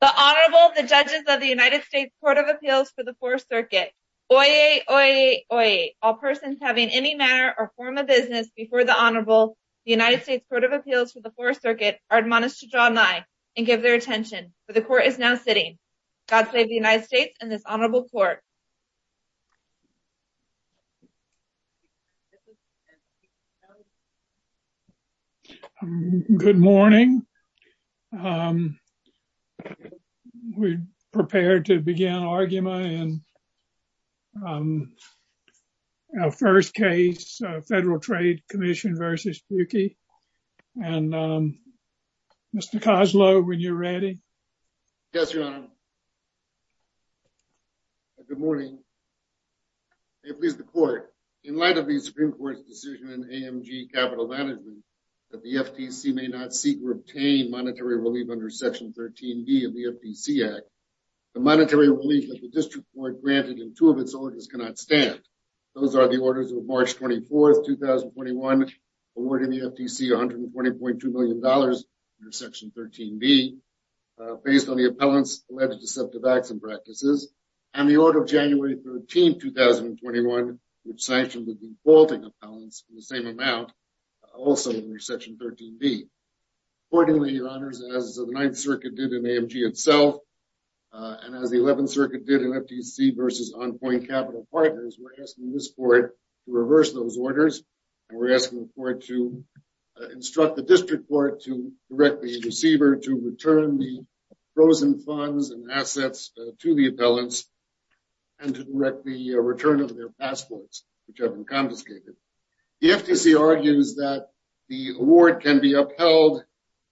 The Honorable, the Judges of the United States Court of Appeals for the Fourth Circuit. Oyez, oyez, oyez. All persons having any manner or form of business before the Honorable, the United States Court of Appeals for the Fourth Circuit, are admonished to draw nigh and give their attention, for the Court is now sitting. God save the United States and this Honorable Court. Good morning. We're prepared to begin our argument in our first case, Federal Trade Commission v. Pukke. And Mr. Koslow, when you're ready. Yes, Your Honor. Good morning. May it please the Court. In light of the Supreme Court's decision in AMG Capital Management that the FTC may not seek or obtain monetary relief under Section 13b of the FTC Act, the monetary relief that the District Court granted in two of its orders cannot stand. Those are the orders of March 24th, 2021, awarding the FTC $120.2 million under Section 13b, based on the appellant's alleged deceptive acts and practices, and the order of January 13th, 2021, which sanctioned the defaulting appellants in the same amount, also under Section 13b. Accordingly, Your Honors, as the Ninth Circuit did in AMG itself, and as the Eleventh Circuit did in FTC v. On Point Capital Partners, we're asking this Court to direct the receiver to return the frozen funds and assets to the appellants and to direct the return of their passports, which have been confiscated. The FTC argues that the award can be upheld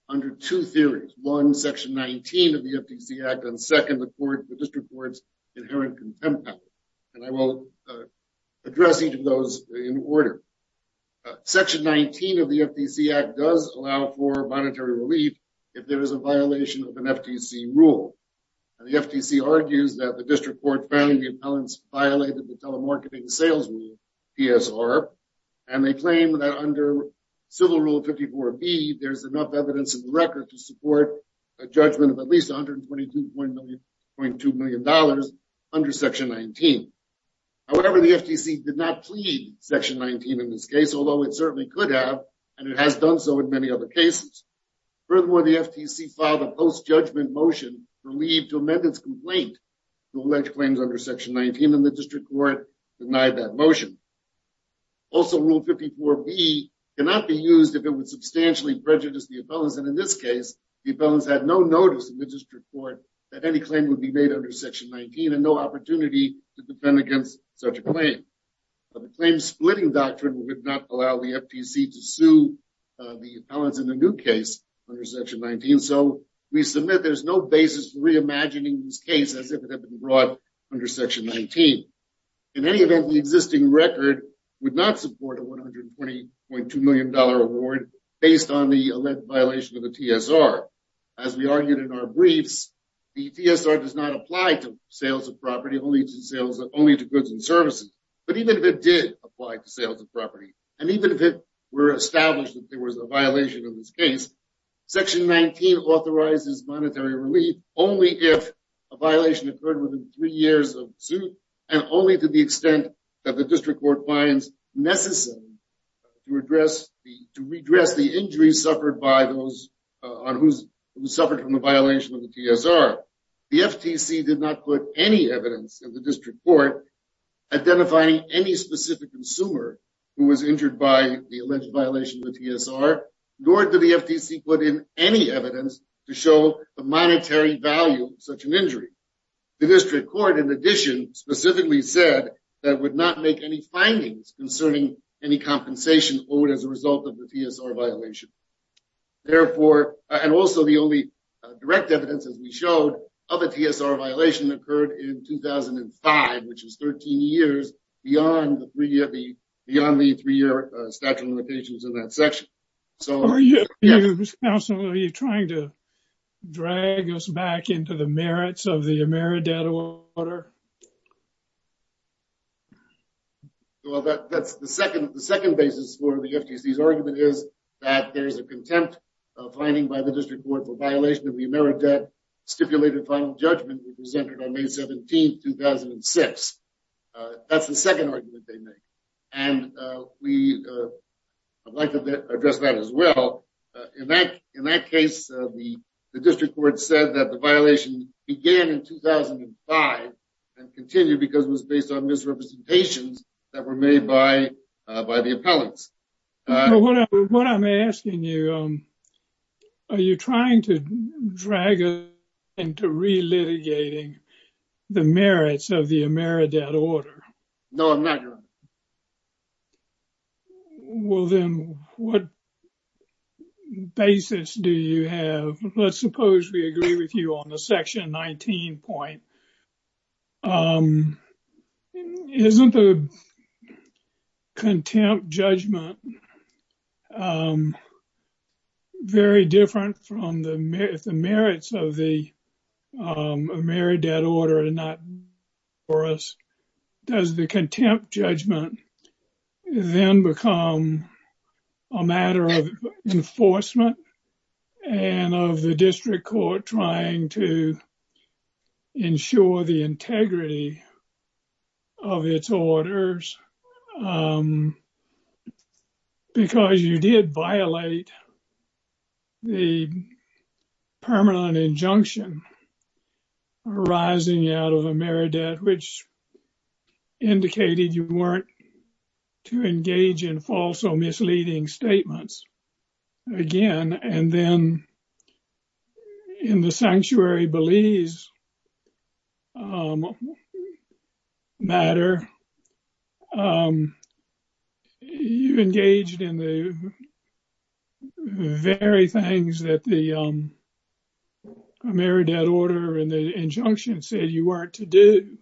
under two theories. One, Section 19 of the FTC Act, and second, the District Court's inherent contempt power. And I will address each of those in order. Section 19 of the FTC Act does allow for monetary relief if there is a violation of an FTC rule. The FTC argues that the District Court found the appellants violated the Telemarketing Sales Rule, PSR, and they claim that under Civil Rule 54b, there's enough evidence in the record to support a judgment of at least $122.2 million under Section 19. However, the FTC did not plead Section 19 in this case, although it certainly could have, and it has done so in many other cases. Furthermore, the FTC filed a post-judgment motion for leave to amend its complaint to allege claims under Section 19, and the District Court denied that motion. Also, Rule 54b cannot be used if it would substantially prejudice the appellants, and in this case, the appellants had no notice in the District Court that any claim would be made under Section 19 and no opportunity to defend such a claim. The claim-splitting doctrine would not allow the FTC to sue the appellants in the new case under Section 19, so we submit there's no basis for reimagining this case as if it had been brought under Section 19. In any event, the existing record would not support a $120.2 million award based on the alleged violation of the TSR. As we argued in our briefs, the TSR does not apply to sales of property only to goods and services, but even if it did apply to sales of property, and even if it were established that there was a violation in this case, Section 19 authorizes monetary relief only if a violation occurred within three years of suit and only to the extent that the District Court finds necessary to redress the injuries suffered by those The FTC did not put any evidence in the District Court identifying any specific consumer who was injured by the alleged violation of the TSR, nor did the FTC put in any evidence to show the monetary value of such an injury. The District Court, in addition, specifically said that it would not make any findings concerning any compensation owed as a result of the TSR violation. Therefore, and also the only direct evidence, as we showed, of a TSR violation occurred in 2005, which is 13 years beyond the three-year statute of limitations in that section. Are you trying to drag us back into the merits of the AmeriData order? Well, that's the second basis for the FTC's argument is that there's a contempt finding by the District Court for violation of the AmeriData stipulated final judgment presented on May 17, 2006. That's the second argument they make, and we would like to address that as well. In that case, the District Court said that the violation began in 2005, and continued because it was based on misrepresentations that were made by the appellants. What I'm asking you, are you trying to drag us into relitigating the merits of the AmeriData order? No, I'm not, Your Honor. Well, then, what basis do you have? Let's suppose we agree with you on the section 19 point, isn't the contempt judgment very different from the merits of the AmeriData order and not for us? Does the contempt judgment then become a matter of enforcement and of the District Court trying to ensure the integrity of its orders because you did violate the permanent injunction arising out of AmeriData, which indicated you weren't to engage in false or misleading statements again? And then, in the Sanctuary Belize matter, you engaged in the very things that the AmeriData order and the injunction said you weren't to do.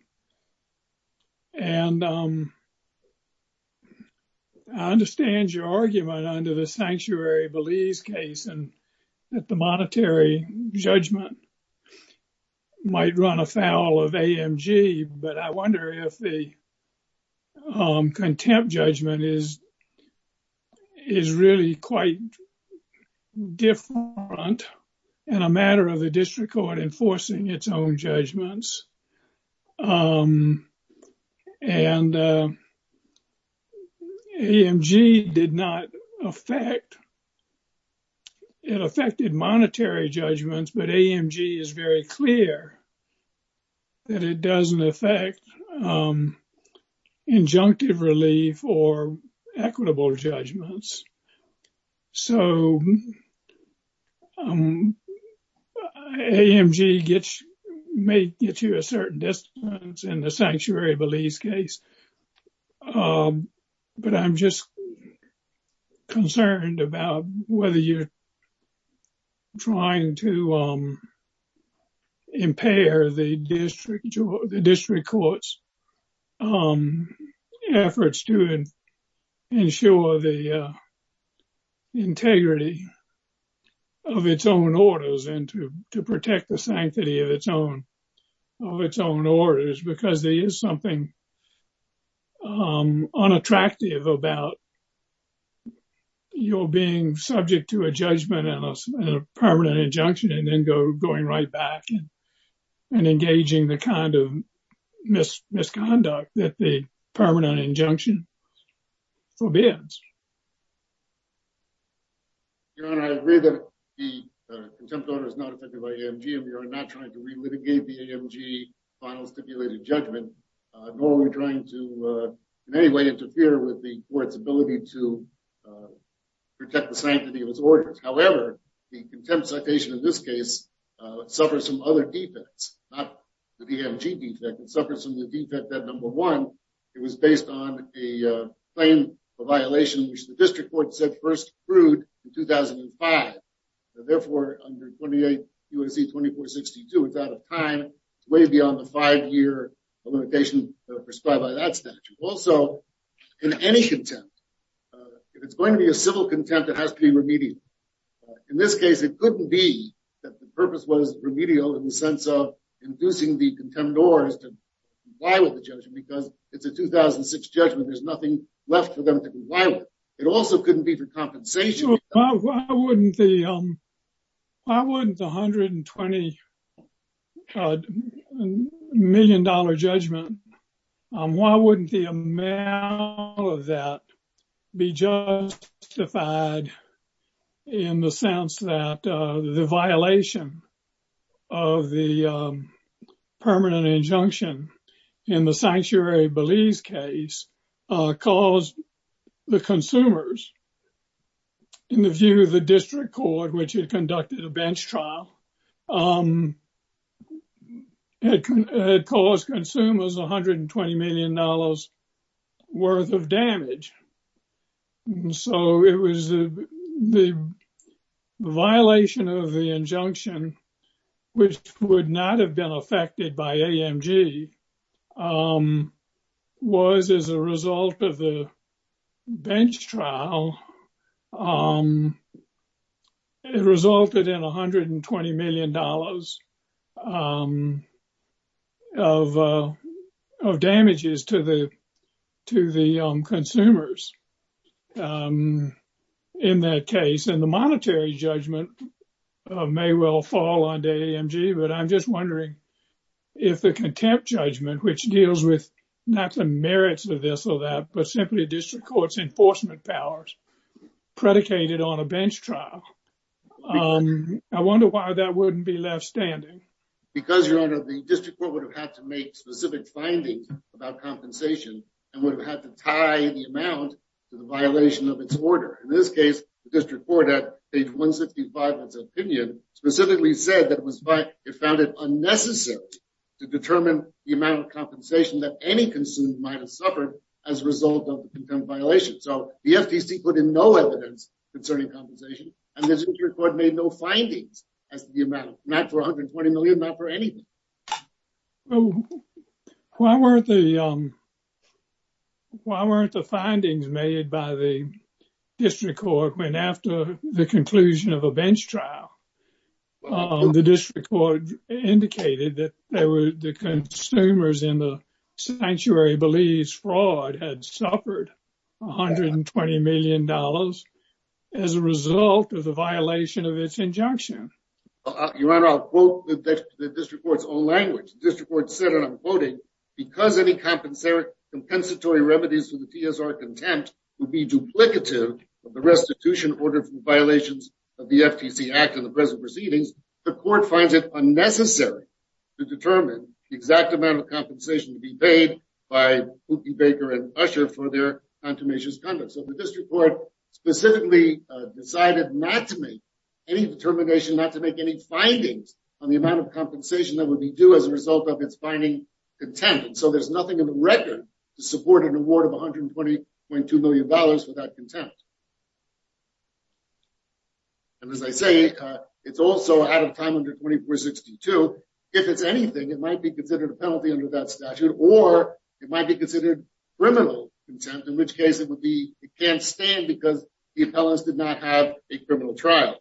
And I understand your argument under the Sanctuary Belize case and that the monetary judgment might run afoul of AMG, but I wonder if the contempt judgment is really quite different and a matter of the District Court enforcing its own judgments. And AMG did not affect, it affected monetary judgments, but AMG is very clear that it doesn't affect injunctive relief or equitable judgments. So, AMG may get you a certain distance in the Sanctuary Belize case. But I'm just the District Court's efforts to ensure the integrity of its own orders and to protect the sanctity of its own orders because there is something unattractive about you being subject to a judgment and a permanent injunction and then going right back and engaging the kind of misconduct that the permanent injunction forbids. Your Honor, I agree that the contempt order is not affected by AMG and we are not trying to relitigate the AMG final stipulated judgment, nor are we trying to in any way interfere with the Court's ability to protect the sanctity of its orders. However, the contempt citation in this case suffers from other defects, not the AMG defect. It suffers from the defect that, number one, it was based on a claim of violation which the District Court said first approved in 2005. Therefore, under 28 U.S.C. 2462, it's out of time. It's way beyond the five-year limitation prescribed by that statute. Also, in any contempt, if it's going to be a civil contempt, it has to be remedial. In this case, it couldn't be that the purpose was remedial in the sense of inducing the contemptors to comply with the judgment because it's a 2006 judgment. There's nothing left for them to comply with. It also couldn't be for compensation. Why wouldn't the $120 million judgment, why wouldn't the amount of that be justified in the sense that the violation of the permanent injunction in the Sanctuary Belize case caused the consumers, in the view of the District Court, which had conducted a bench trial, had caused consumers $120 million worth of damage? So, it was the violation of the injunction, which would not have been affected by AMG, was, as a result of the bench trial, it resulted in $120 million of damages to the consumers in that case. The monetary judgment may well fall on AMG, but I'm just wondering if the contempt judgment, which deals with not the merits of this or that, but simply District Court's enforcement powers predicated on a bench trial, I wonder why that wouldn't be left standing. Because, Your Honor, the District Court would have had to make specific findings about compensation and would have had to tie the amount to the violation of its order. In this case, the District Court, at page 165 of its opinion, specifically said that it found it unnecessary to determine the amount of compensation that any consumer might have suffered as a result of the contempt violation. So, the FTC put in no evidence concerning compensation and the District Court made no findings as to the amount, not for $120 million, not for anything. Why weren't the findings made by the District Court indicated that the consumers in the sanctuary believes fraud had suffered $120 million as a result of the violation of its injunction? Your Honor, I'll quote the District Court's own language. The District Court said, and I'm quoting, because any compensatory remedies to the TSR contempt would be duplicative of the restitution ordered for violations of the FTC Act and the present proceedings, the Court finds it unnecessary to determine the exact amount of compensation to be paid by Hoopi Baker and Usher for their contumacious conduct. So, the District Court specifically decided not to make any determination, not to make any findings on the amount of compensation that would be due as a result of its finding contempt. And so, there's nothing in the record to support an award of $120.2 million without contempt. And as I say, it's also out of time under 2462. If it's anything, it might be considered a penalty under that statute or it might be considered criminal contempt, in which case it would be, it can't stand because the appellants did not have a criminal trial.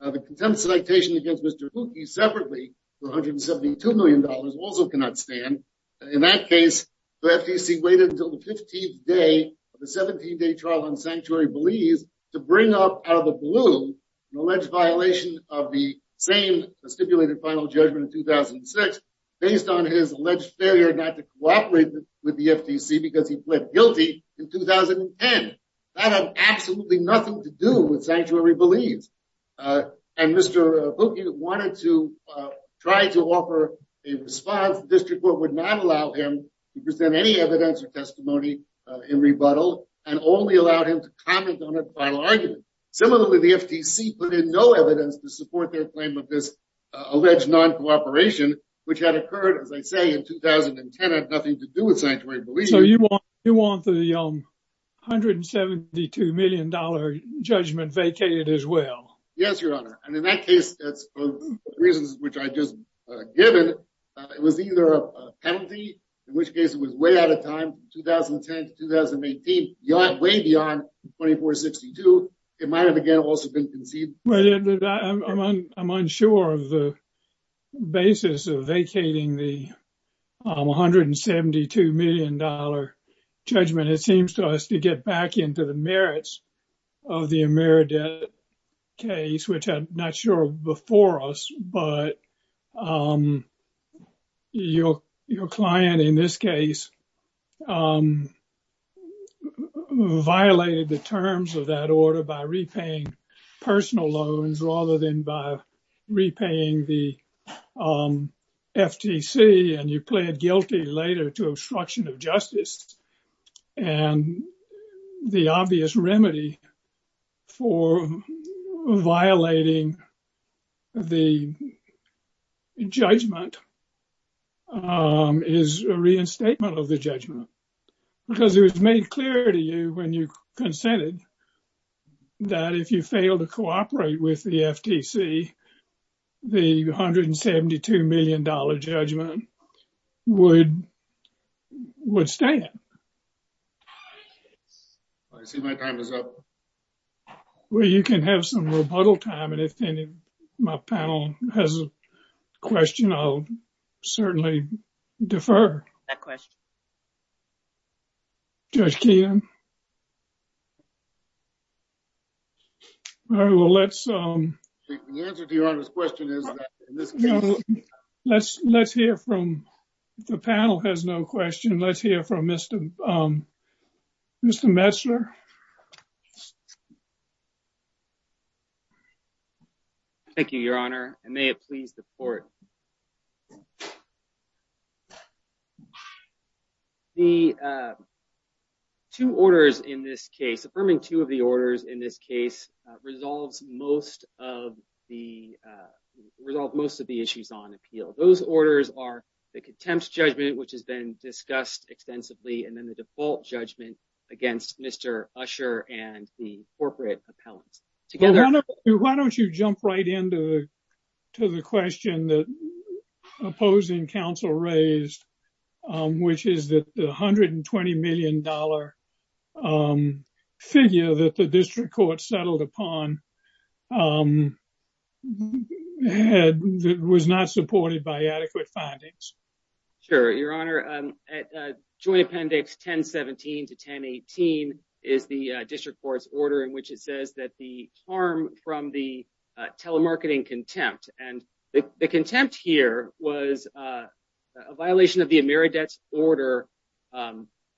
The contempt citation against Mr. Hoopi separately for $172 million also cannot stand. In that case, the FTC waited until the 15th day of the 17-day trial on sanctuary bullies to bring up out of the blue an alleged violation of the same stipulated final judgment in 2006 based on his alleged failure not to cooperate with the FTC because he pled guilty in 2010. That had absolutely nothing to do with sanctuary bullies. And Mr. Hoopi wanted to try to offer a response. The district court would not allow him to present any evidence or testimony in rebuttal and only allowed him to comment on a final argument. Similarly, the FTC put in no evidence to support their claim of this alleged non-cooperation, which had occurred, as I say, in 2010 had nothing to do with sanctuary bullies. So you want the $172 million judgment vacated as Yes, your honor. And in that case, that's the reasons which I just given. It was either a penalty, in which case it was way out of time, 2010 to 2018, way beyond 2462. It might have again also been conceived. I'm unsure of the basis of vacating the $172 million judgment. It seems to get back into the merits of the Ameridet case, which I'm not sure before us, but your client in this case, violated the terms of that order by repaying personal loans rather than by repaying the obvious remedy for violating the judgment is a reinstatement of the judgment. Because it was made clear to you when you consented that if you fail to cooperate with the FTC, the $172 million judgment would stand. I see my time is up. Well, you can have some rebuttal time. And if my panel has a question, I'll certainly defer. That question. Judge Keenan. All right. Well, let's question is, let's hear from the panel has no question. Let's hear from Mr. Messler. Thank you, Your Honor. And may it please the court. The two orders in this case, affirming two of the orders in this case, resolves most of the issues on appeal. Those orders are the contempt judgment, which has been discussed extensively, and then the default judgment against Mr. Usher and the corporate appellant together. Why don't you jump right into the question that opposing counsel raised, which is the $120 million figure that the district court settled upon was not supported by adequate findings? Sure, Your Honor. Joint Appendix 1017 to 1018 is the district court's order in which it says that the harm from the telemarketing contempt and the contempt here was a violation of the emeritus order,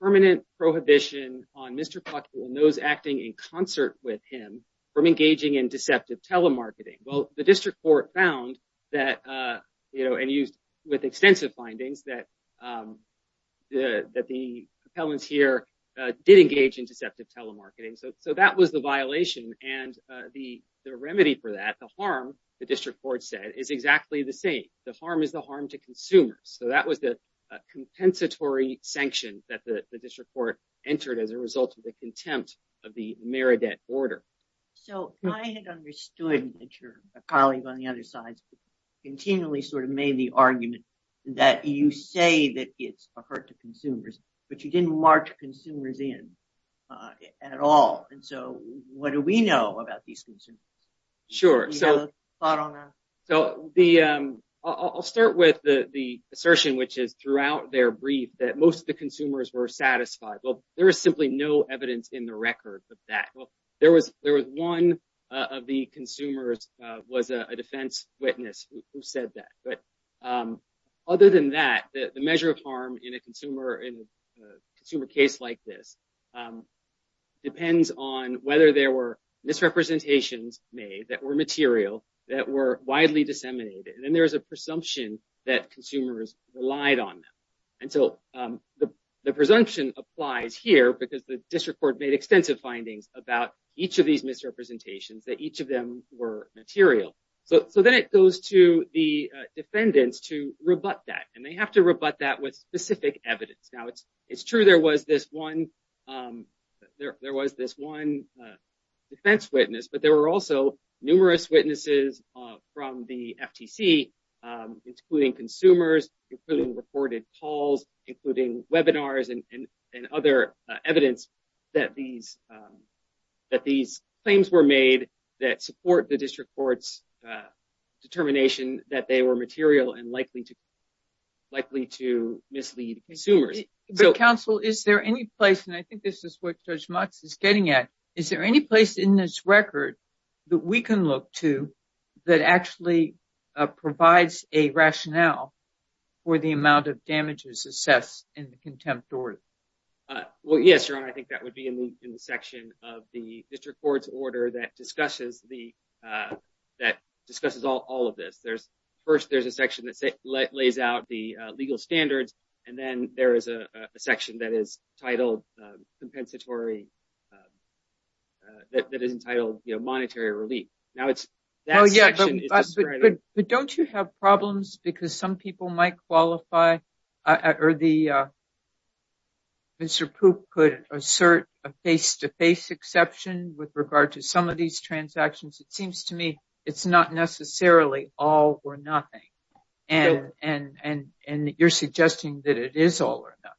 permanent prohibition on Mr. Plotkin and those acting in concert with him from engaging in deceptive telemarketing. Well, the district court found that, you know, and used with extensive findings that the appellants here did engage in deceptive telemarketing. So that was the violation. And the remedy for that, the harm, the district court said, is exactly the same. The harm is the harm to consumers. So that was the compensatory sanction that the district court entered as a result of the contempt of the Meredith order. So I had understood that your colleague on the other side continually sort of made the argument that you say that it's a hurt to consumers, but you didn't march consumers in at all. And so what do we know about these consumers? Sure. So I'll start with the assertion, which is throughout their brief that most of the consumers were satisfied. Well, there is simply no evidence in the record of that. Well, there was one of the consumers was a defense witness who said that. But other than that, the measure of consumer case like this depends on whether there were misrepresentations made that were material that were widely disseminated. And then there is a presumption that consumers relied on them. And so the presumption applies here because the district court made extensive findings about each of these misrepresentations, that each of them were material. So then it goes to the it's true there was this one there was this one defense witness, but there were also numerous witnesses from the FTC, including consumers, including reported calls, including webinars and other evidence that these that these claims were made that support the district court's determination that they were material and likely to likely to mislead consumers. But counsel, is there any place and I think this is what Judge Motz is getting at. Is there any place in this record that we can look to that actually provides a rationale for the amount of damages assessed in the contempt order? Well, yes, your honor. I think that would be in the section of the district court's order that discusses the that discusses all of this. There's first there's a section that lays out the legal standards, and then there is a section that is titled compensatory. That is entitled Monetary Relief. Now, it's. But don't you have problems because some people might qualify or the. Mr. Poop could assert a face to face exception with regard to some of these transactions. It seems to me it's not necessarily all or nothing. And and and you're suggesting that it is all or nothing.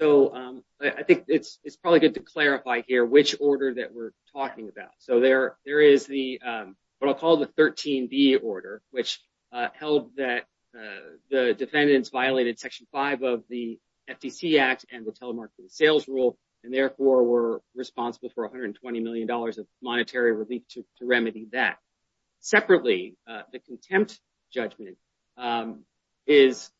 So I think it's it's probably good to clarify here which order that we're talking about. So there there is the what I'll call the 13B order, which held that the defendants violated section five of the FTC Act and the telemarketing sales rule and therefore were responsible for $120 million of monetary relief to remedy that. Separately, the contempt judgment is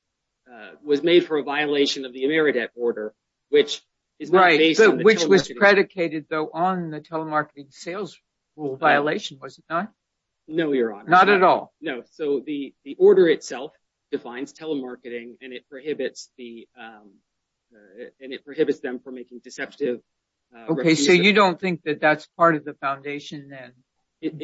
was made for a violation of the emeritus order, which is right, which was predicated, though, on the telemarketing sales rule violation, was it not? No, you're not at all. No. So the the order itself defines telemarketing and it prohibits the and it prohibits them from making deceptive. OK, so you don't think that that's part of the foundation then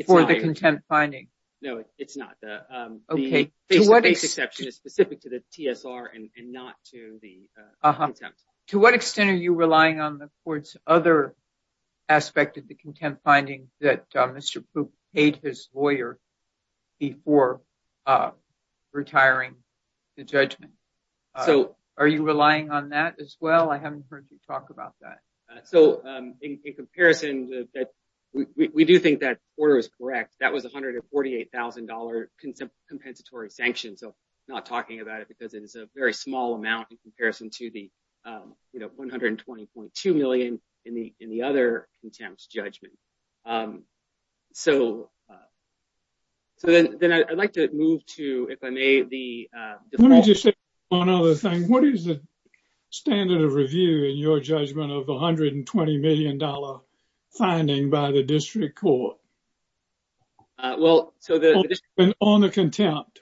for the contempt finding? No, it's not. The face to face exception is specific to the TSR and not to the contempt. To what extent are you relying on the court's other aspect of the contempt finding that Mr. Poop paid his lawyer before retiring the judgment? So are you relying on that as well? I haven't heard you talk about that. So in comparison, we do think that order is correct. That was one hundred and forty eight thousand dollar compensatory sanction. So I'm not talking about it because it is a very small amount in comparison to the one hundred and twenty point two million in the in the other contempt judgment. So. So then I'd like to move to, if I may, the one other thing, what is the standard of review in your judgment of one hundred and twenty million dollar finding by the district court? Well, so on the contempt.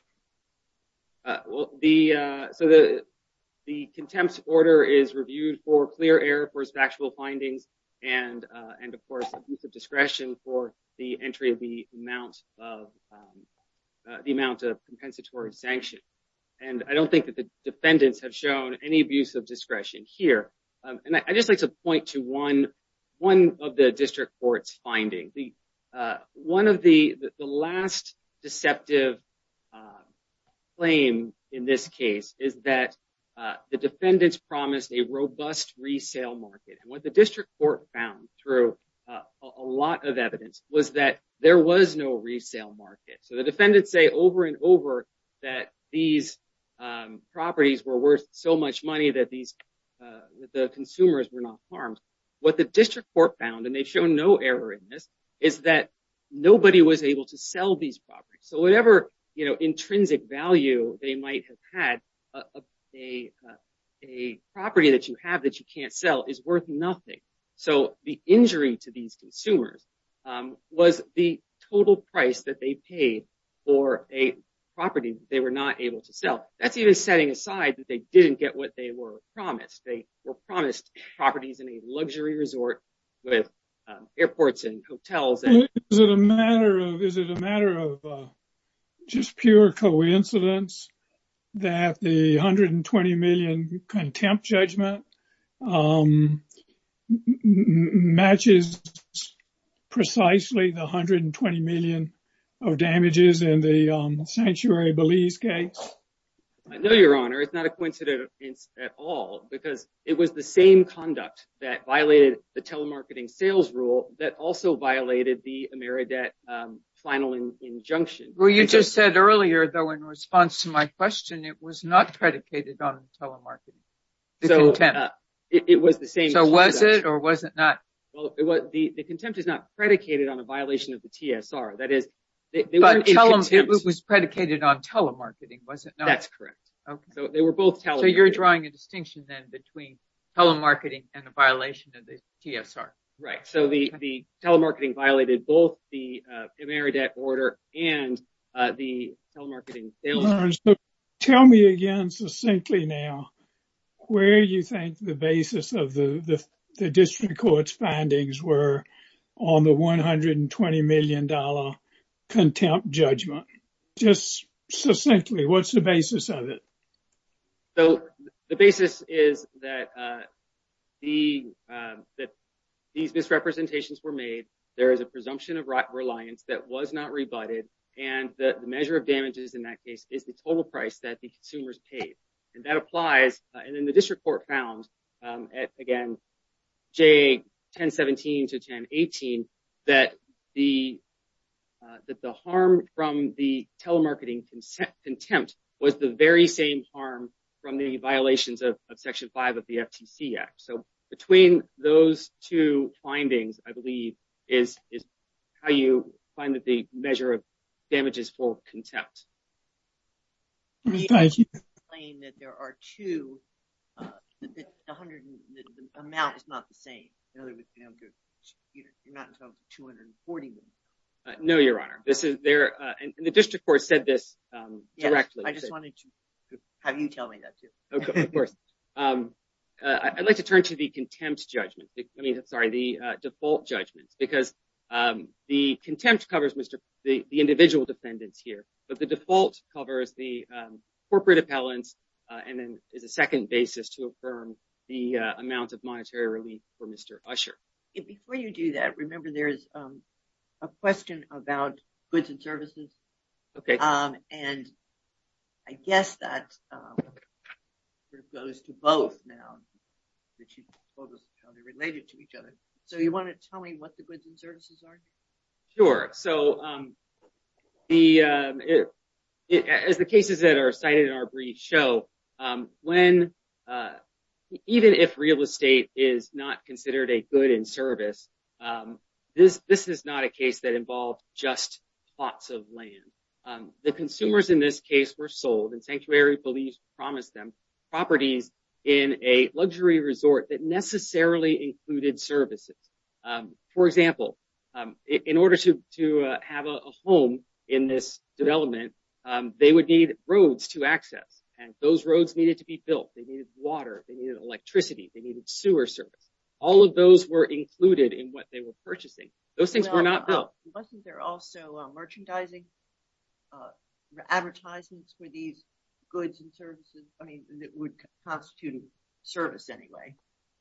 Well, the so the the contempt order is reviewed for clear air, for factual findings and and, of course, abuse of discretion for the entry of the amount of the amount of compensatory sanction. And I don't think that the defendants have shown any abuse of discretion here. And I just like to point to one one of the district courts finding the one of the last deceptive claim in this case is that the defendants promised a robust resale market. And what the district court found through a lot of evidence was that there was no resale market. So the defendants say over and over that these properties were worth so much money that these consumers were not harmed. What the district court found, and they've shown no error in this, is that nobody was able to sell these properties. So whatever, you know, intrinsic value they might have had a a property that you have that you can't sell is worth nothing. So the injury to these consumers was the total price that they paid for a property they were not able to sell. That's even setting aside that they didn't get what they were promised. They were promised properties in a luxury resort with airports and hotels. And is it a matter of is it a matter of just pure coincidence that the 120 million contempt judgment matches precisely the 120 million of damages in the Sanctuary Belize case? I know, Your Honor, it's not a coincidence at all because it was the same conduct that violated the telemarketing sales rule that also violated the Ameridet final injunction. Well, you just said earlier, though, in response to my question, it was not predicated on telemarketing. It was the same. So was it or was it not? Well, the contempt is not predicated on a violation of the TSR. That is, it was predicated on telemarketing, wasn't it? That's correct. So they were both telemarketing. So you're drawing a distinction then between telemarketing and the violation of the TSR. Right. So the telemarketing violated both the Ameridet order and the telemarketing. Lawrence, tell me again, succinctly now, where you think the basis of the district court's findings were on the 120 million dollar contempt judgment? Just succinctly, what's the basis of it? So the basis is that these misrepresentations were made. There is a presumption of reliance that was not rebutted. And the measure of damages in that case is the total price that the consumers paid. And that applies. And then the district court found, again, J 1017 to 1018, that the harm from the telemarketing contempt was the very same harm from the violations of Section 5 of the FTC Act. So between those two findings, I believe, is how you find that the measure of damages for contempt. Can you explain that there are two, that the amount is not the same? In other words, you're not talking about 240 million? No, Your Honor. And the district court said this directly. I just wanted to have you tell me that too. Of course. I'd like to turn to the contempt judgment. I mean, sorry, the default judgment. Because the contempt covers the individual defendants here. But the default covers the corporate appellants and then is a second basis to affirm the amount of monetary relief for Mr. Usher. Before you do that, remember there is a question about goods and services. OK. And I guess that goes to both now, that you both are related to each other. So you want to tell me what the goods and services are? Sure. So as the cases that are cited in our brief show, even if real estate is not considered a good in service, this is not a case that involved just plots of land. The consumers in this case were sold and sanctuary police promised them properties in a luxury resort that necessarily included services. For example, in order to have a home in this development, they would need roads to access. And those roads needed to be built. They needed water. They needed electricity. They needed sewer service. All of those were included in what they were purchasing. Those things were not built. Wasn't there also merchandising? Advertisements for these goods and services? I mean, that would constitute service anyway.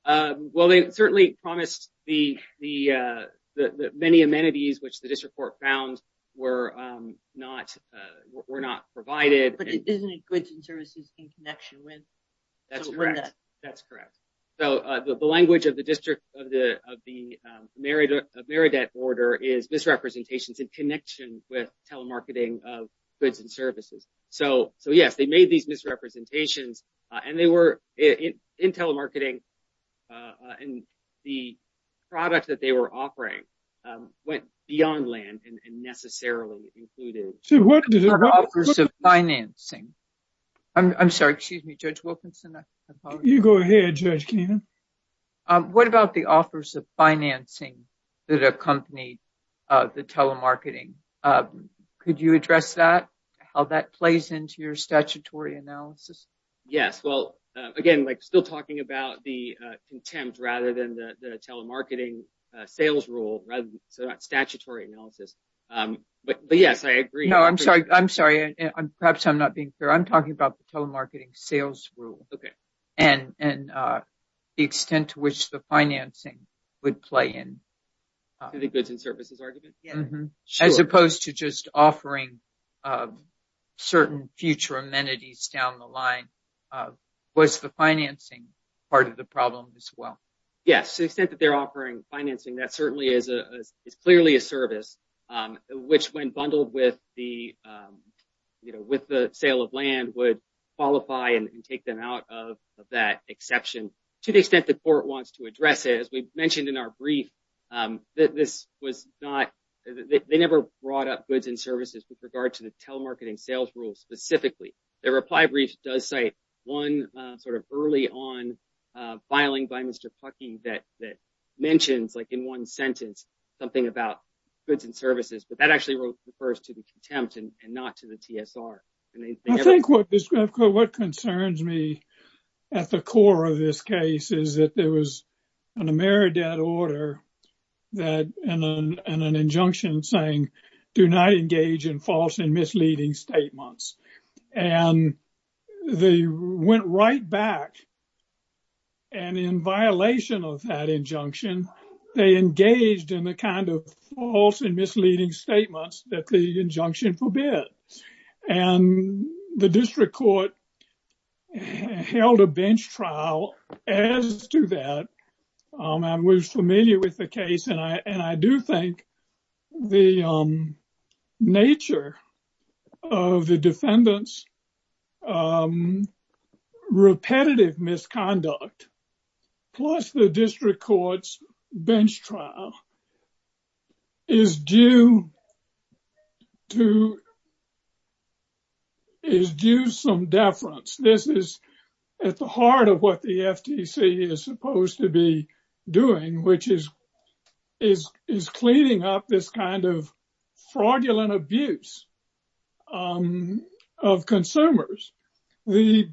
Well, they certainly promised the many amenities which the district court found were not provided. But isn't it goods and services in connection with? That's correct. That's correct. So the language of the district of the Meredith border is misrepresentations in connection with telemarketing of goods and services. So yes, they made these misrepresentations. And they were in telemarketing. And the product that they were offering went beyond land and necessarily included. So what is the purpose of financing? I'm sorry. Excuse me, Judge Wilkinson. You go ahead, Judge Keenan. What about the offers of financing that accompanied the telemarketing? Could you address that? How that plays into your statutory analysis? Yes. Well, again, like still talking about the contempt rather than the telemarketing sales rule rather than statutory analysis. But yes, I agree. No, I'm sorry. I'm sorry. Perhaps I'm not being fair. I'm talking about the telemarketing sales rule. And the extent to which the financing would play in. To the goods and services argument? As opposed to just offering certain future amenities down the line. Was the financing part of the problem as well? Yes. The extent that they're offering financing, that certainly is clearly a service which when bundled with the sale of land would qualify and take them out of that exception. To the extent the court wants to address it, as we mentioned in our brief, that this was not, they never brought up goods and services with regard to the telemarketing sales rule specifically. The reply brief does cite one sort of early on filing by Mr. Pucky that mentions like in one sentence something about goods and services. But that actually refers to the contempt and not to the TSR. I think what concerns me at the core of this case is that there was an Ameridad order and an injunction saying do not engage in false and misleading statements. And they went right back and in violation of that injunction they engaged in the kind of false and misleading statements that the injunction forbid. And the district court held a bench trial as to that. I was familiar with the case and I do think the nature of the defendant's repetitive misconduct plus the district court's bench trial is due some deference. This is at the heart of what the FTC is supposed to be doing, which is cleaning up this kind of fraudulent abuse of consumers. The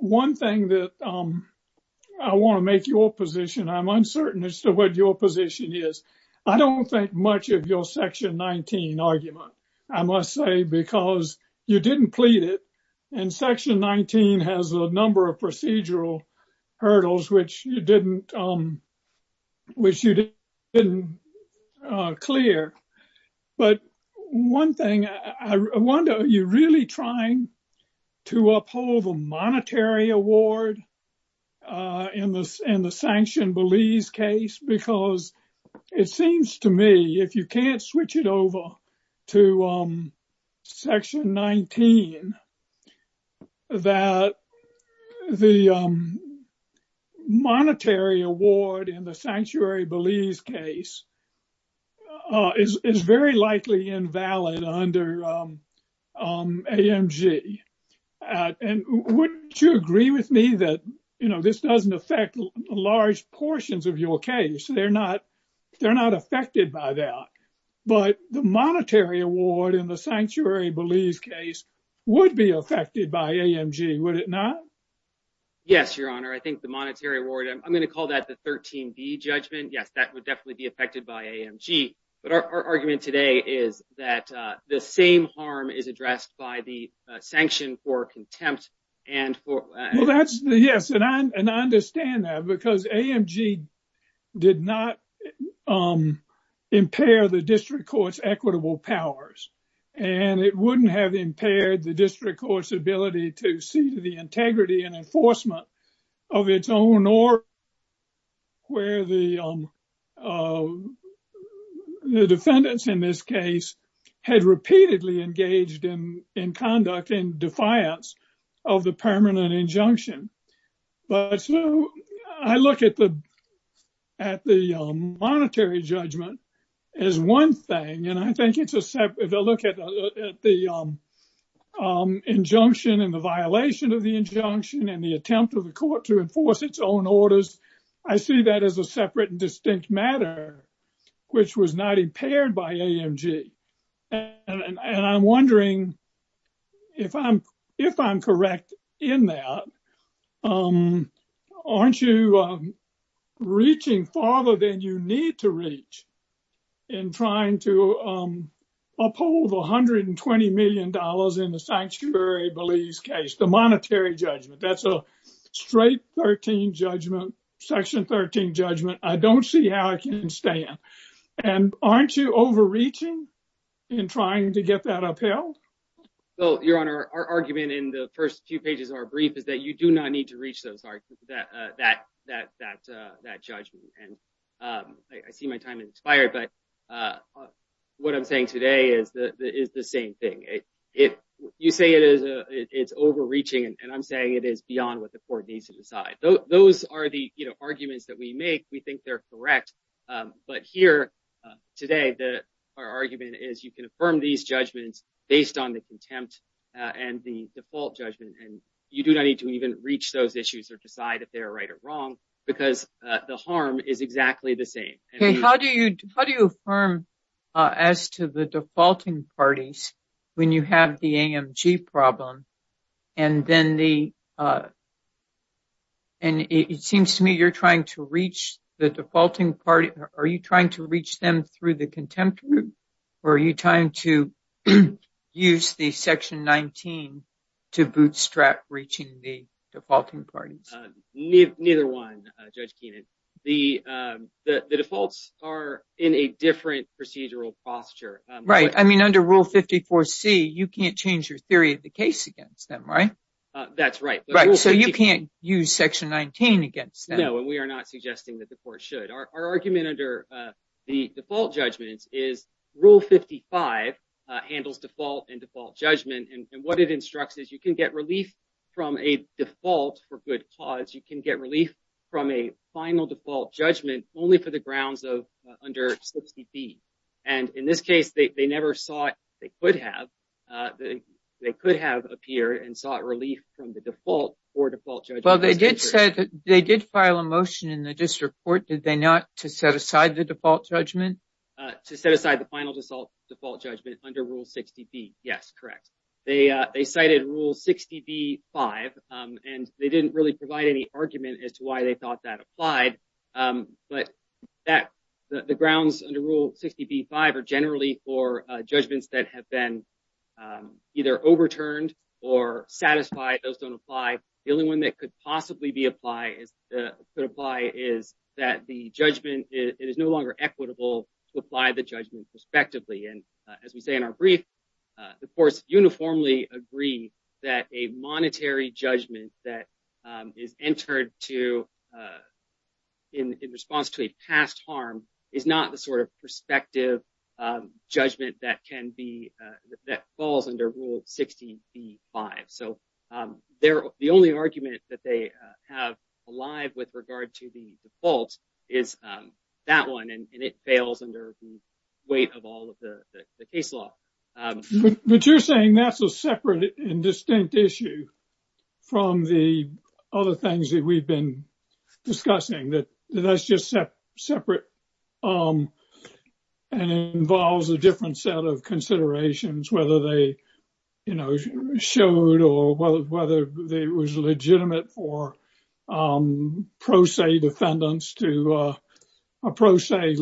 one thing that I want to make your position, I'm uncertain as to what your position is. I don't think much of your section 19 argument, I must say, because you didn't plead it. And section 19 has a number of procedural hurdles which you didn't clear. But one thing I wonder, are you really trying to uphold a monetary award in the sanctioned Belize case? Because it seems to me if you can't switch it over to section 19 that the monetary award in the sanctuary Belize case is very likely invalid under AMG. And wouldn't you agree with me that this doesn't affect large portions of your case? They're not affected by that. But the monetary award in the sanctuary Belize case would be affected by AMG, would it not? Yes, your honor. I think the monetary award, I'm going to call that the 13B judgment. Yes, that would definitely be affected by AMG. But our argument today is that the same harm is addressed by the sanction for contempt. Yes, and I understand that because AMG did not impair the district court's equitable powers. And it wouldn't have impaired the district court's ability to see to the integrity and enforcement of its own order where the defendants in this case had repeatedly engaged in conduct in defiance of the permanent injunction. But I look at the monetary judgment as one thing. I think if I look at the injunction and the violation of the injunction and the attempt of the court to enforce its own orders, I see that as a separate and distinct matter which was not impaired by AMG. And I'm wondering if I'm correct in that, aren't you reaching farther than you need to reach in trying to uphold $120 million in the sanctuary beliefs case, the monetary judgment? That's a straight 13 judgment, section 13 judgment. I don't see how I can stand. And aren't you overreaching in trying to get that upheld? So, your honor, our argument in the first few pages of our brief is that you do not need to reach that judgment. And I see my time has expired. But what I'm saying today is the same thing. You say it's overreaching, and I'm saying it is beyond what the court needs to decide. Those are the arguments that we make. We think they're correct. But here today, our argument is you can affirm these judgments based on the contempt and the default judgment. And you do not need to even reach those issues or decide if they're right or wrong because the harm is exactly the same. How do you affirm as to the defaulting parties when you have the AMG problem? And it seems to me you're trying to reach the defaulting party. Are you trying to reach them through the contempt group? Or are you trying to use the section 19 to bootstrap reaching the defaulting parties? Neither one, Judge Keenan. The defaults are in a different procedural posture. Right. I mean, under Rule 54C, you can't change your theory of the case against them, right? That's right. Right. So, you can't use section 19 against them. No, and we are not suggesting that the court should. Our argument under the default judgments is Rule 55 handles default and default judgment. And what it instructs is you can get relief from a default for good cause. You can get relief from a final default judgment only for the grounds of under 60B. And in this case, they never saw it. They could have. They could have appeared and sought relief from the default or default judgment. Well, they did say that they did file a motion in the district court. Did they not to set aside the default judgment? To set aside the final default judgment under Rule 60B. Yes, correct. They cited Rule 60B-5, and they didn't really provide any argument as to why they thought that applied. But the grounds under Rule 60B-5 are generally for judgments that have been either overturned or satisfied. Those don't apply. The only one that could possibly be applied is that the judgment is no longer equitable to apply the judgment respectively. And as we say in our brief, the courts uniformly agree that a monetary judgment that is entered to in response to a past harm is not the sort of perspective judgment that falls under Rule 60B-5. So the only argument that they have alive with regard to the default is that one, and it fails under the weight of all of the case law. But you're saying that's a separate and distinct issue from the other things that we've been discussing, that that's just separate and involves a different set of considerations, whether they, you know, showed or whether it was legitimate for pro se defendants to approach, say,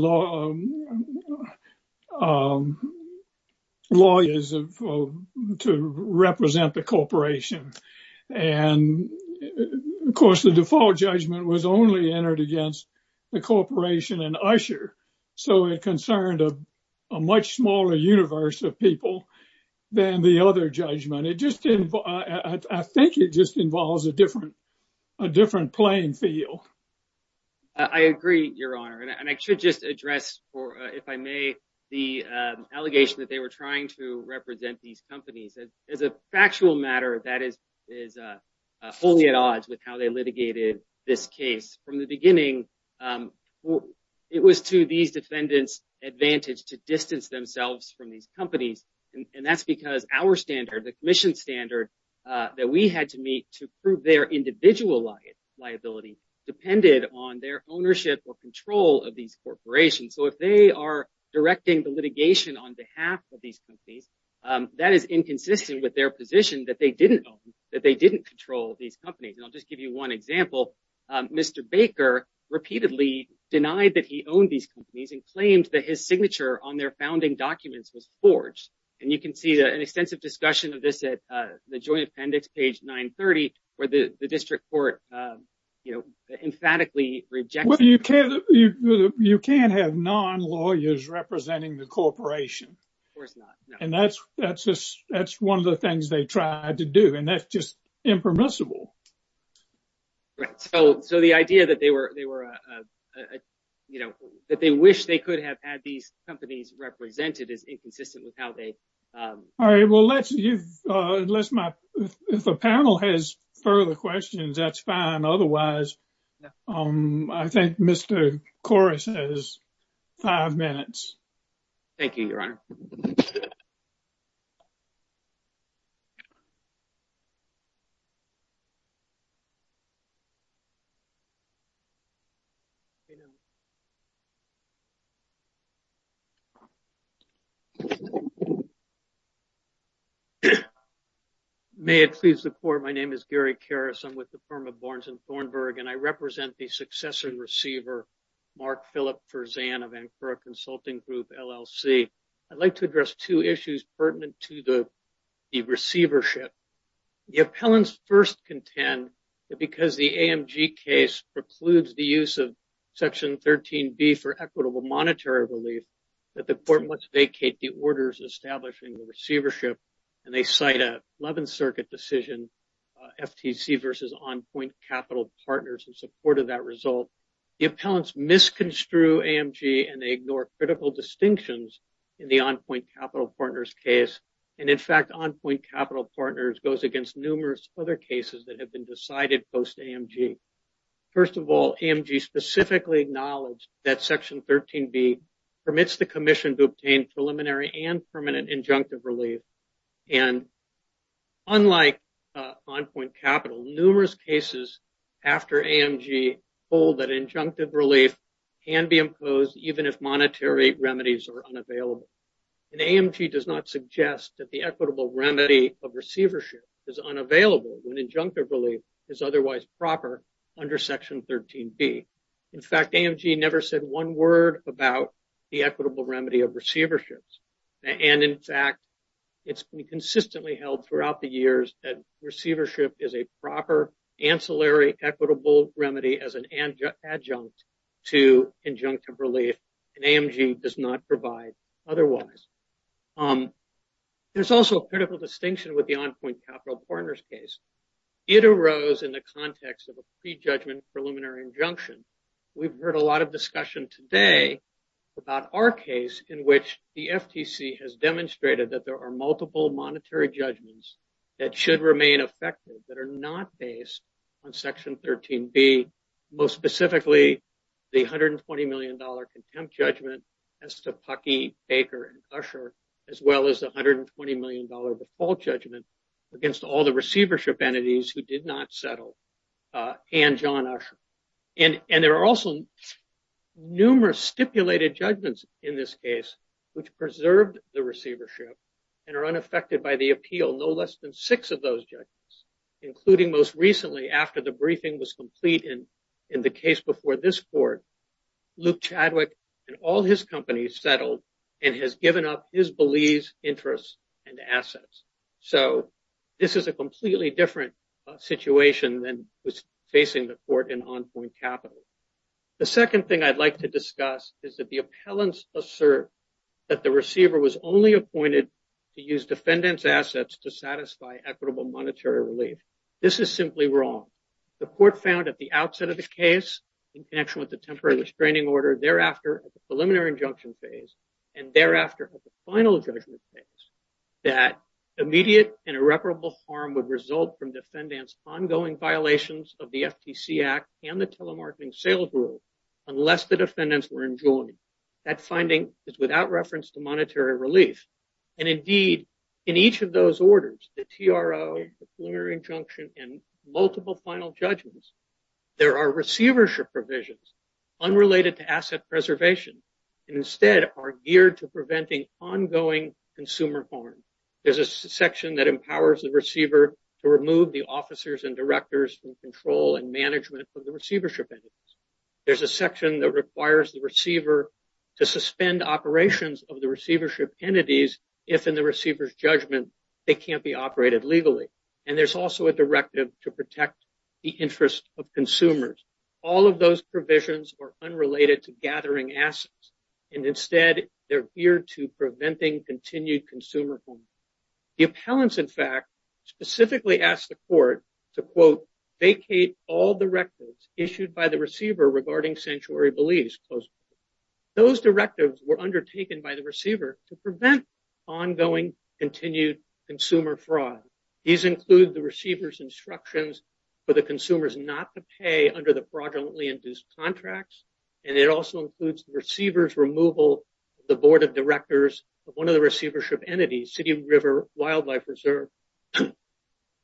lawyers to represent the corporation. And of course, the default judgment was only entered against the corporation and usher. So it concerned a much smaller universe of people than the other judgment. It just didn't, I think it just involves a different playing field. I agree, Your Honor, and I should just address for, if I may, the allegation that they were trying to represent these companies. As a factual matter, that is only at odds with how they litigated this case. From the beginning, it was to these defendants advantage to distance themselves from these companies. And that's because our standard, the commission standard that we had to meet to prove their individual liability, depended on their ownership or control of these corporations. So if they are directing the litigation on behalf of these companies, that is inconsistent with their position that they didn't own, that they didn't control these companies. And I'll just give you one example. Mr. Baker repeatedly denied that he owned these companies and claimed that his signature on their founding documents was forged. And you can see an extensive discussion of this at the Joint Appendix, page 930, where the district court, you know, emphatically rejected. Well, you can't have non-lawyers representing the corporation. Of course not. And that's one of the things they tried to do. And that's just impermissible. Right. So the idea that they wish they could have had these companies represented is inconsistent with how they. All right. Well, let's, if the panel has further questions, that's fine. Otherwise, I think Mr. Corris has five minutes. Thank you, Your Honor. May it please the court. My name is Gary Corris. I'm with the firm of Barnes and Thornburg, and I represent the successor receiver, Mark Philip Fersan of Ankara Consulting Group, LLC. I'd like to address two issues pertinent to the receivership. The appellants first contend that because the AMG case precludes the use of Section 13B for equitable monetary relief, that the court must vacate the orders establishing the receivership. And they cite an 11th Circuit decision, FTC versus On Point Capital Partners, in support of that result. The appellants misconstrue AMG, and they ignore critical distinctions in the On Point Capital Partners case. And in fact, On Point Capital Partners goes against numerous other cases that have been decided post-AMG. First of all, AMG specifically acknowledged that Section 13B permits the commission to obtain preliminary and permanent injunctive relief. And unlike On Point Capital, numerous cases after AMG hold that injunctive relief can be imposed even if monetary remedies are unavailable. And AMG does not suggest that the equitable remedy of receivership is unavailable when under Section 13B. In fact, AMG never said one word about the equitable remedy of receiverships. And in fact, it's been consistently held throughout the years that receivership is a proper ancillary equitable remedy as an adjunct to injunctive relief, and AMG does not provide otherwise. There's also a critical distinction with the On Point Capital Partners case. It arose in the context of a prejudgment preliminary injunction. We've heard a lot of discussion today about our case in which the FTC has demonstrated that there are multiple monetary judgments that should remain effective that are not based on Section 13B, most specifically the $120 million contempt judgment as to Pucky, Baker, and Usher, as well as the $120 million default judgment against all the receivership entities who did not settle and John Usher. And there are also numerous stipulated judgments in this case which preserved the receivership and are unaffected by the appeal, no less than six of those judgments, including most recently after the briefing was complete in the case before this Court, Luke Chadwick and all his companies settled and has given up his beliefs, interests, and assets. So this is a completely different situation than was facing the Court in On Point Capital. The second thing I'd like to discuss is that the appellants assert that the receiver was only appointed to use defendants' assets to satisfy equitable monetary relief. This is simply wrong. The Court found at the outset of the case in connection with the temporary restraining order, thereafter at the preliminary injunction phase, and thereafter at the final judgment phase, that immediate and irreparable harm would result from defendants' ongoing violations of the FTC Act and the telemarketing sales rule unless the defendants were enjoined. That finding is without reference to monetary relief. And indeed, in each of those orders, the TRO, the preliminary injunction, and multiple final judgments, there are receivership provisions unrelated to asset preservation and instead are geared to preventing ongoing consumer harm. There's a section that empowers the receiver to remove the officers and directors from control and management of the receivership entities. There's a section that requires the receiver to suspend operations of the receivership entities if, in the receiver's judgment, they can't be operated legally. And there's also a directive to protect the interests of consumers. All of those provisions are unrelated to gathering assets. And instead, they're geared to preventing continued consumer harm. The appellants, in fact, specifically asked the Court to, quote, vacate all directives issued by the receiver regarding sanctuary beliefs, close quote. Those directives were undertaken by the receiver to prevent ongoing continued consumer fraud. These include the receiver's instructions for the consumers not to pay under the fraudulently induced contracts. And it also includes the receiver's removal of the board of directors of one of the receivership entities, City River Wildlife Reserve.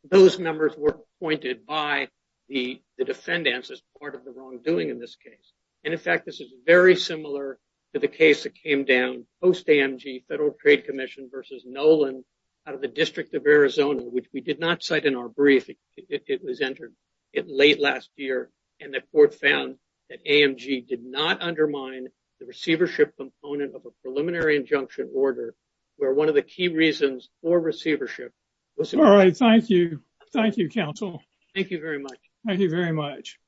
Those numbers were appointed by the defendants as part of the wrongdoing in this case. And in fact, this is very similar to the case that came down post-AMG Federal Trade Commission versus Nolan out of the District of Arizona, which we did not cite in our brief. It was entered late last year. And the Court found that AMG did not undermine the receivership component of a preliminary injunction order, where one of the key reasons for receivership was- All right. Thank you. Thank you, counsel. Thank you very much. Thank you very much.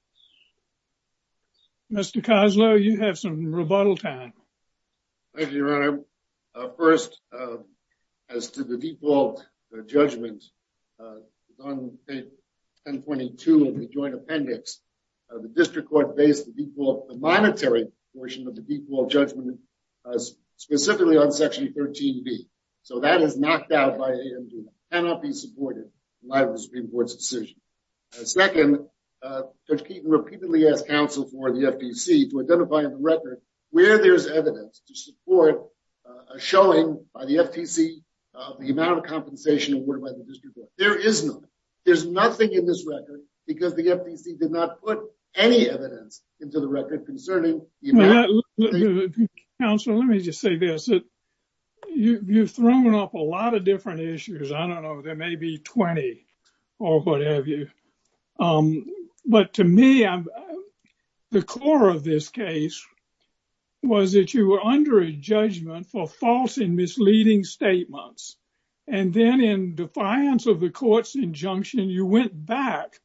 Mr. Koslow, you have some rebuttal time. Thank you, Your Honor. First, as to the default judgment on page 1022 of the Joint Appendix, the District Court based the monetary portion of the default judgment specifically on Section 13B. So that is knocked out by AMG, cannot be supported in light of the Supreme Court's decision. Second, Judge Keeton repeatedly asked counsel for the FTC to identify on the record where there's evidence to support a showing by the FTC of the amount of compensation awarded by the District Court. There is none. There's nothing in this record because the FTC did not put any evidence into the record concerning the amount of compensation. Counsel, let me just say this. You've thrown up a lot of different issues. I don't know. There may be 20 or what have you. But to me, the core of this case was that you were under a judgment for false and misleading statements. And then in defiance of the court's injunction, you went back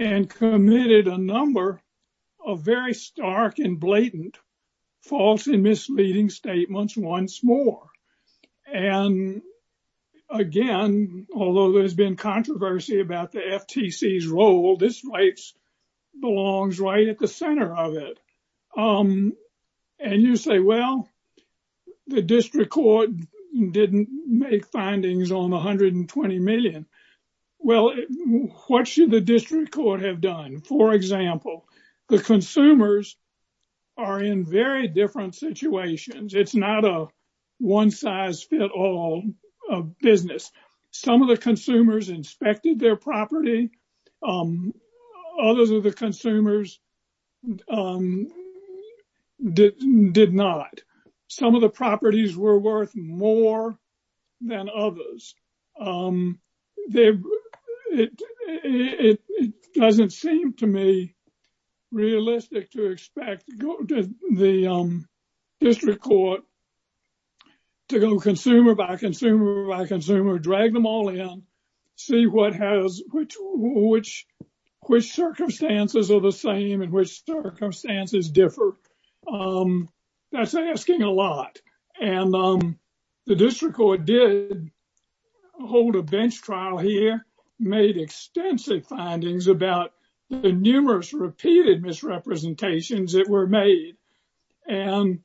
and committed a number of very stark and blatant false and misleading statements once more. And again, although there's been controversy about the FTC's role, this rights belongs right at the center of it. And you say, well, the District Court didn't make findings on $120 million. Well, what should the District Court have done? For example, the consumers are in very different situations. It's not a one-size-fit-all business. Some of the consumers inspected their property. Others of the consumers did not. Some of the properties were worth more than others. It doesn't seem to me realistic to expect the District Court to go consumer by consumer by consumer, drag them all in, see which circumstances are the same and which circumstances differ. That's asking a lot. And the District Court did hold a bench trial here, made extensive findings about the numerous repeated misrepresentations that were made and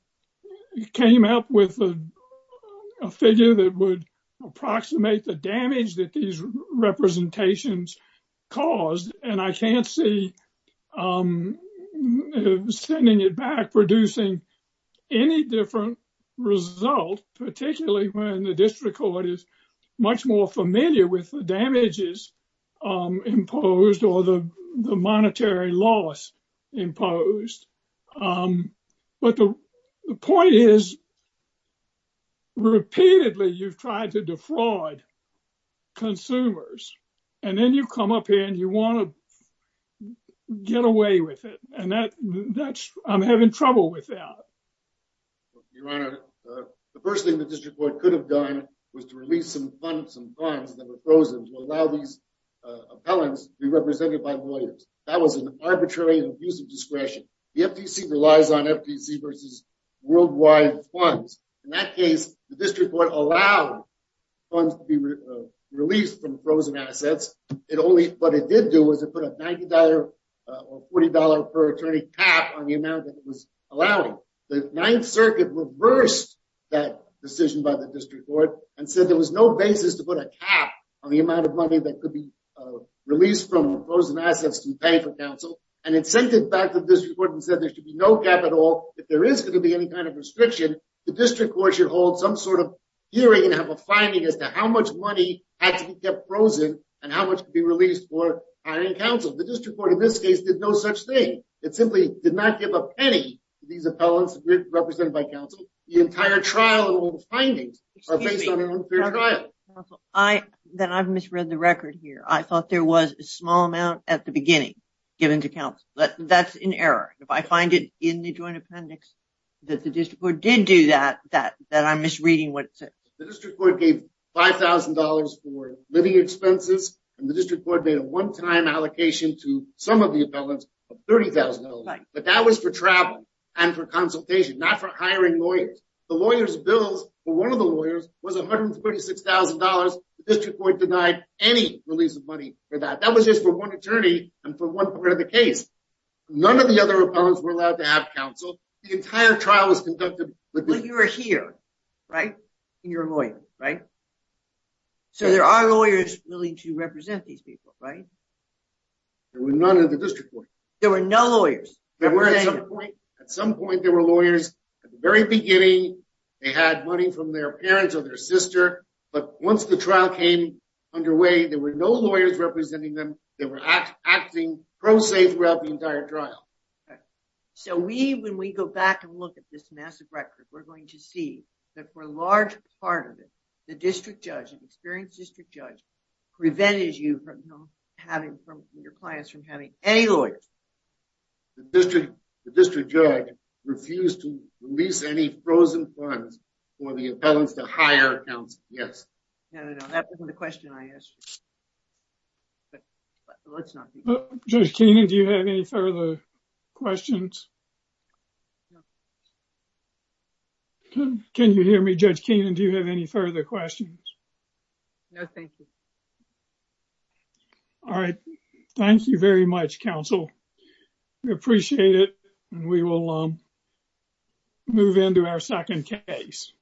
came up with a figure that would approximate the damage that these representations caused. And I can't see sending it back producing any different result, particularly when the District Court is much more familiar with the damages imposed or the monetary loss imposed. But the point is, repeatedly, you've tried to defraud consumers. And then you come up here and you want to get away with it. And I'm having trouble with that. Your Honor, the first thing the District Court could have done was to release some funds that were frozen to allow these appellants to be represented by lawyers. That was an arbitrary and abusive discretion. The FTC relies on FTC versus worldwide funds. In that case, the District Court allowed funds to be released from frozen assets. What it did do was it put a $90 or $40 per attorney cap on the amount that it was allowing. The Ninth Circuit reversed that decision by the District Court and said there was no basis to put a cap on the amount of money that could be released from frozen assets to pay for counsel. And it sent it back to the District Court and said there should be no cap at all. If there is going to be any kind of restriction, the District Court should hold some sort of hearing and have a finding as to how much money had to be kept frozen and how much could be released for hiring counsel. The District Court, in this case, did no such thing. It simply did not give a penny to these appellants represented by counsel. The entire trial and all the findings are based on an unfair trial. Then I've misread the record here. I thought there was a small amount at the beginning given to counsel. That's an error. If I find it in the Joint Appendix that the District Court did do that, that I'm misreading what it said. The District Court gave $5,000 for living expenses and the District Court made a one-time allocation to some of the appellants of $30,000. But that was for travel and for consultation, not for hiring lawyers. The lawyer's bills for one of the lawyers was $136,000. The District Court denied any release of money for that. That was just for one attorney and for one part of the case. None of the other appellants were allowed to have counsel. The entire trial was conducted with... But you were here, right? And you're a lawyer, right? So there are lawyers willing to represent these people, right? There were none at the District Court. There were no lawyers? There were at some point. At some point, there were lawyers. At the very beginning, they had money from their parents or their sister. But once the trial came underway, there were no lawyers representing them. They were acting pro se throughout the entire trial. So we, when we go back and look at this massive record, we're going to see that for a large part of it, the District Judge, the experienced District Judge, prevented you from having from your clients from having any lawyers. The District Judge refused to release any frozen funds for the appellants to hire counsel. Yes. No, no, no. That wasn't the question I asked you. But let's not do that. Judge Keenan, do you have any further questions? No. Can you hear me, Judge Keenan? Do you have any further questions? No, thank you. All right. Thank you very much, counsel. We appreciate it. And we will move into our second case.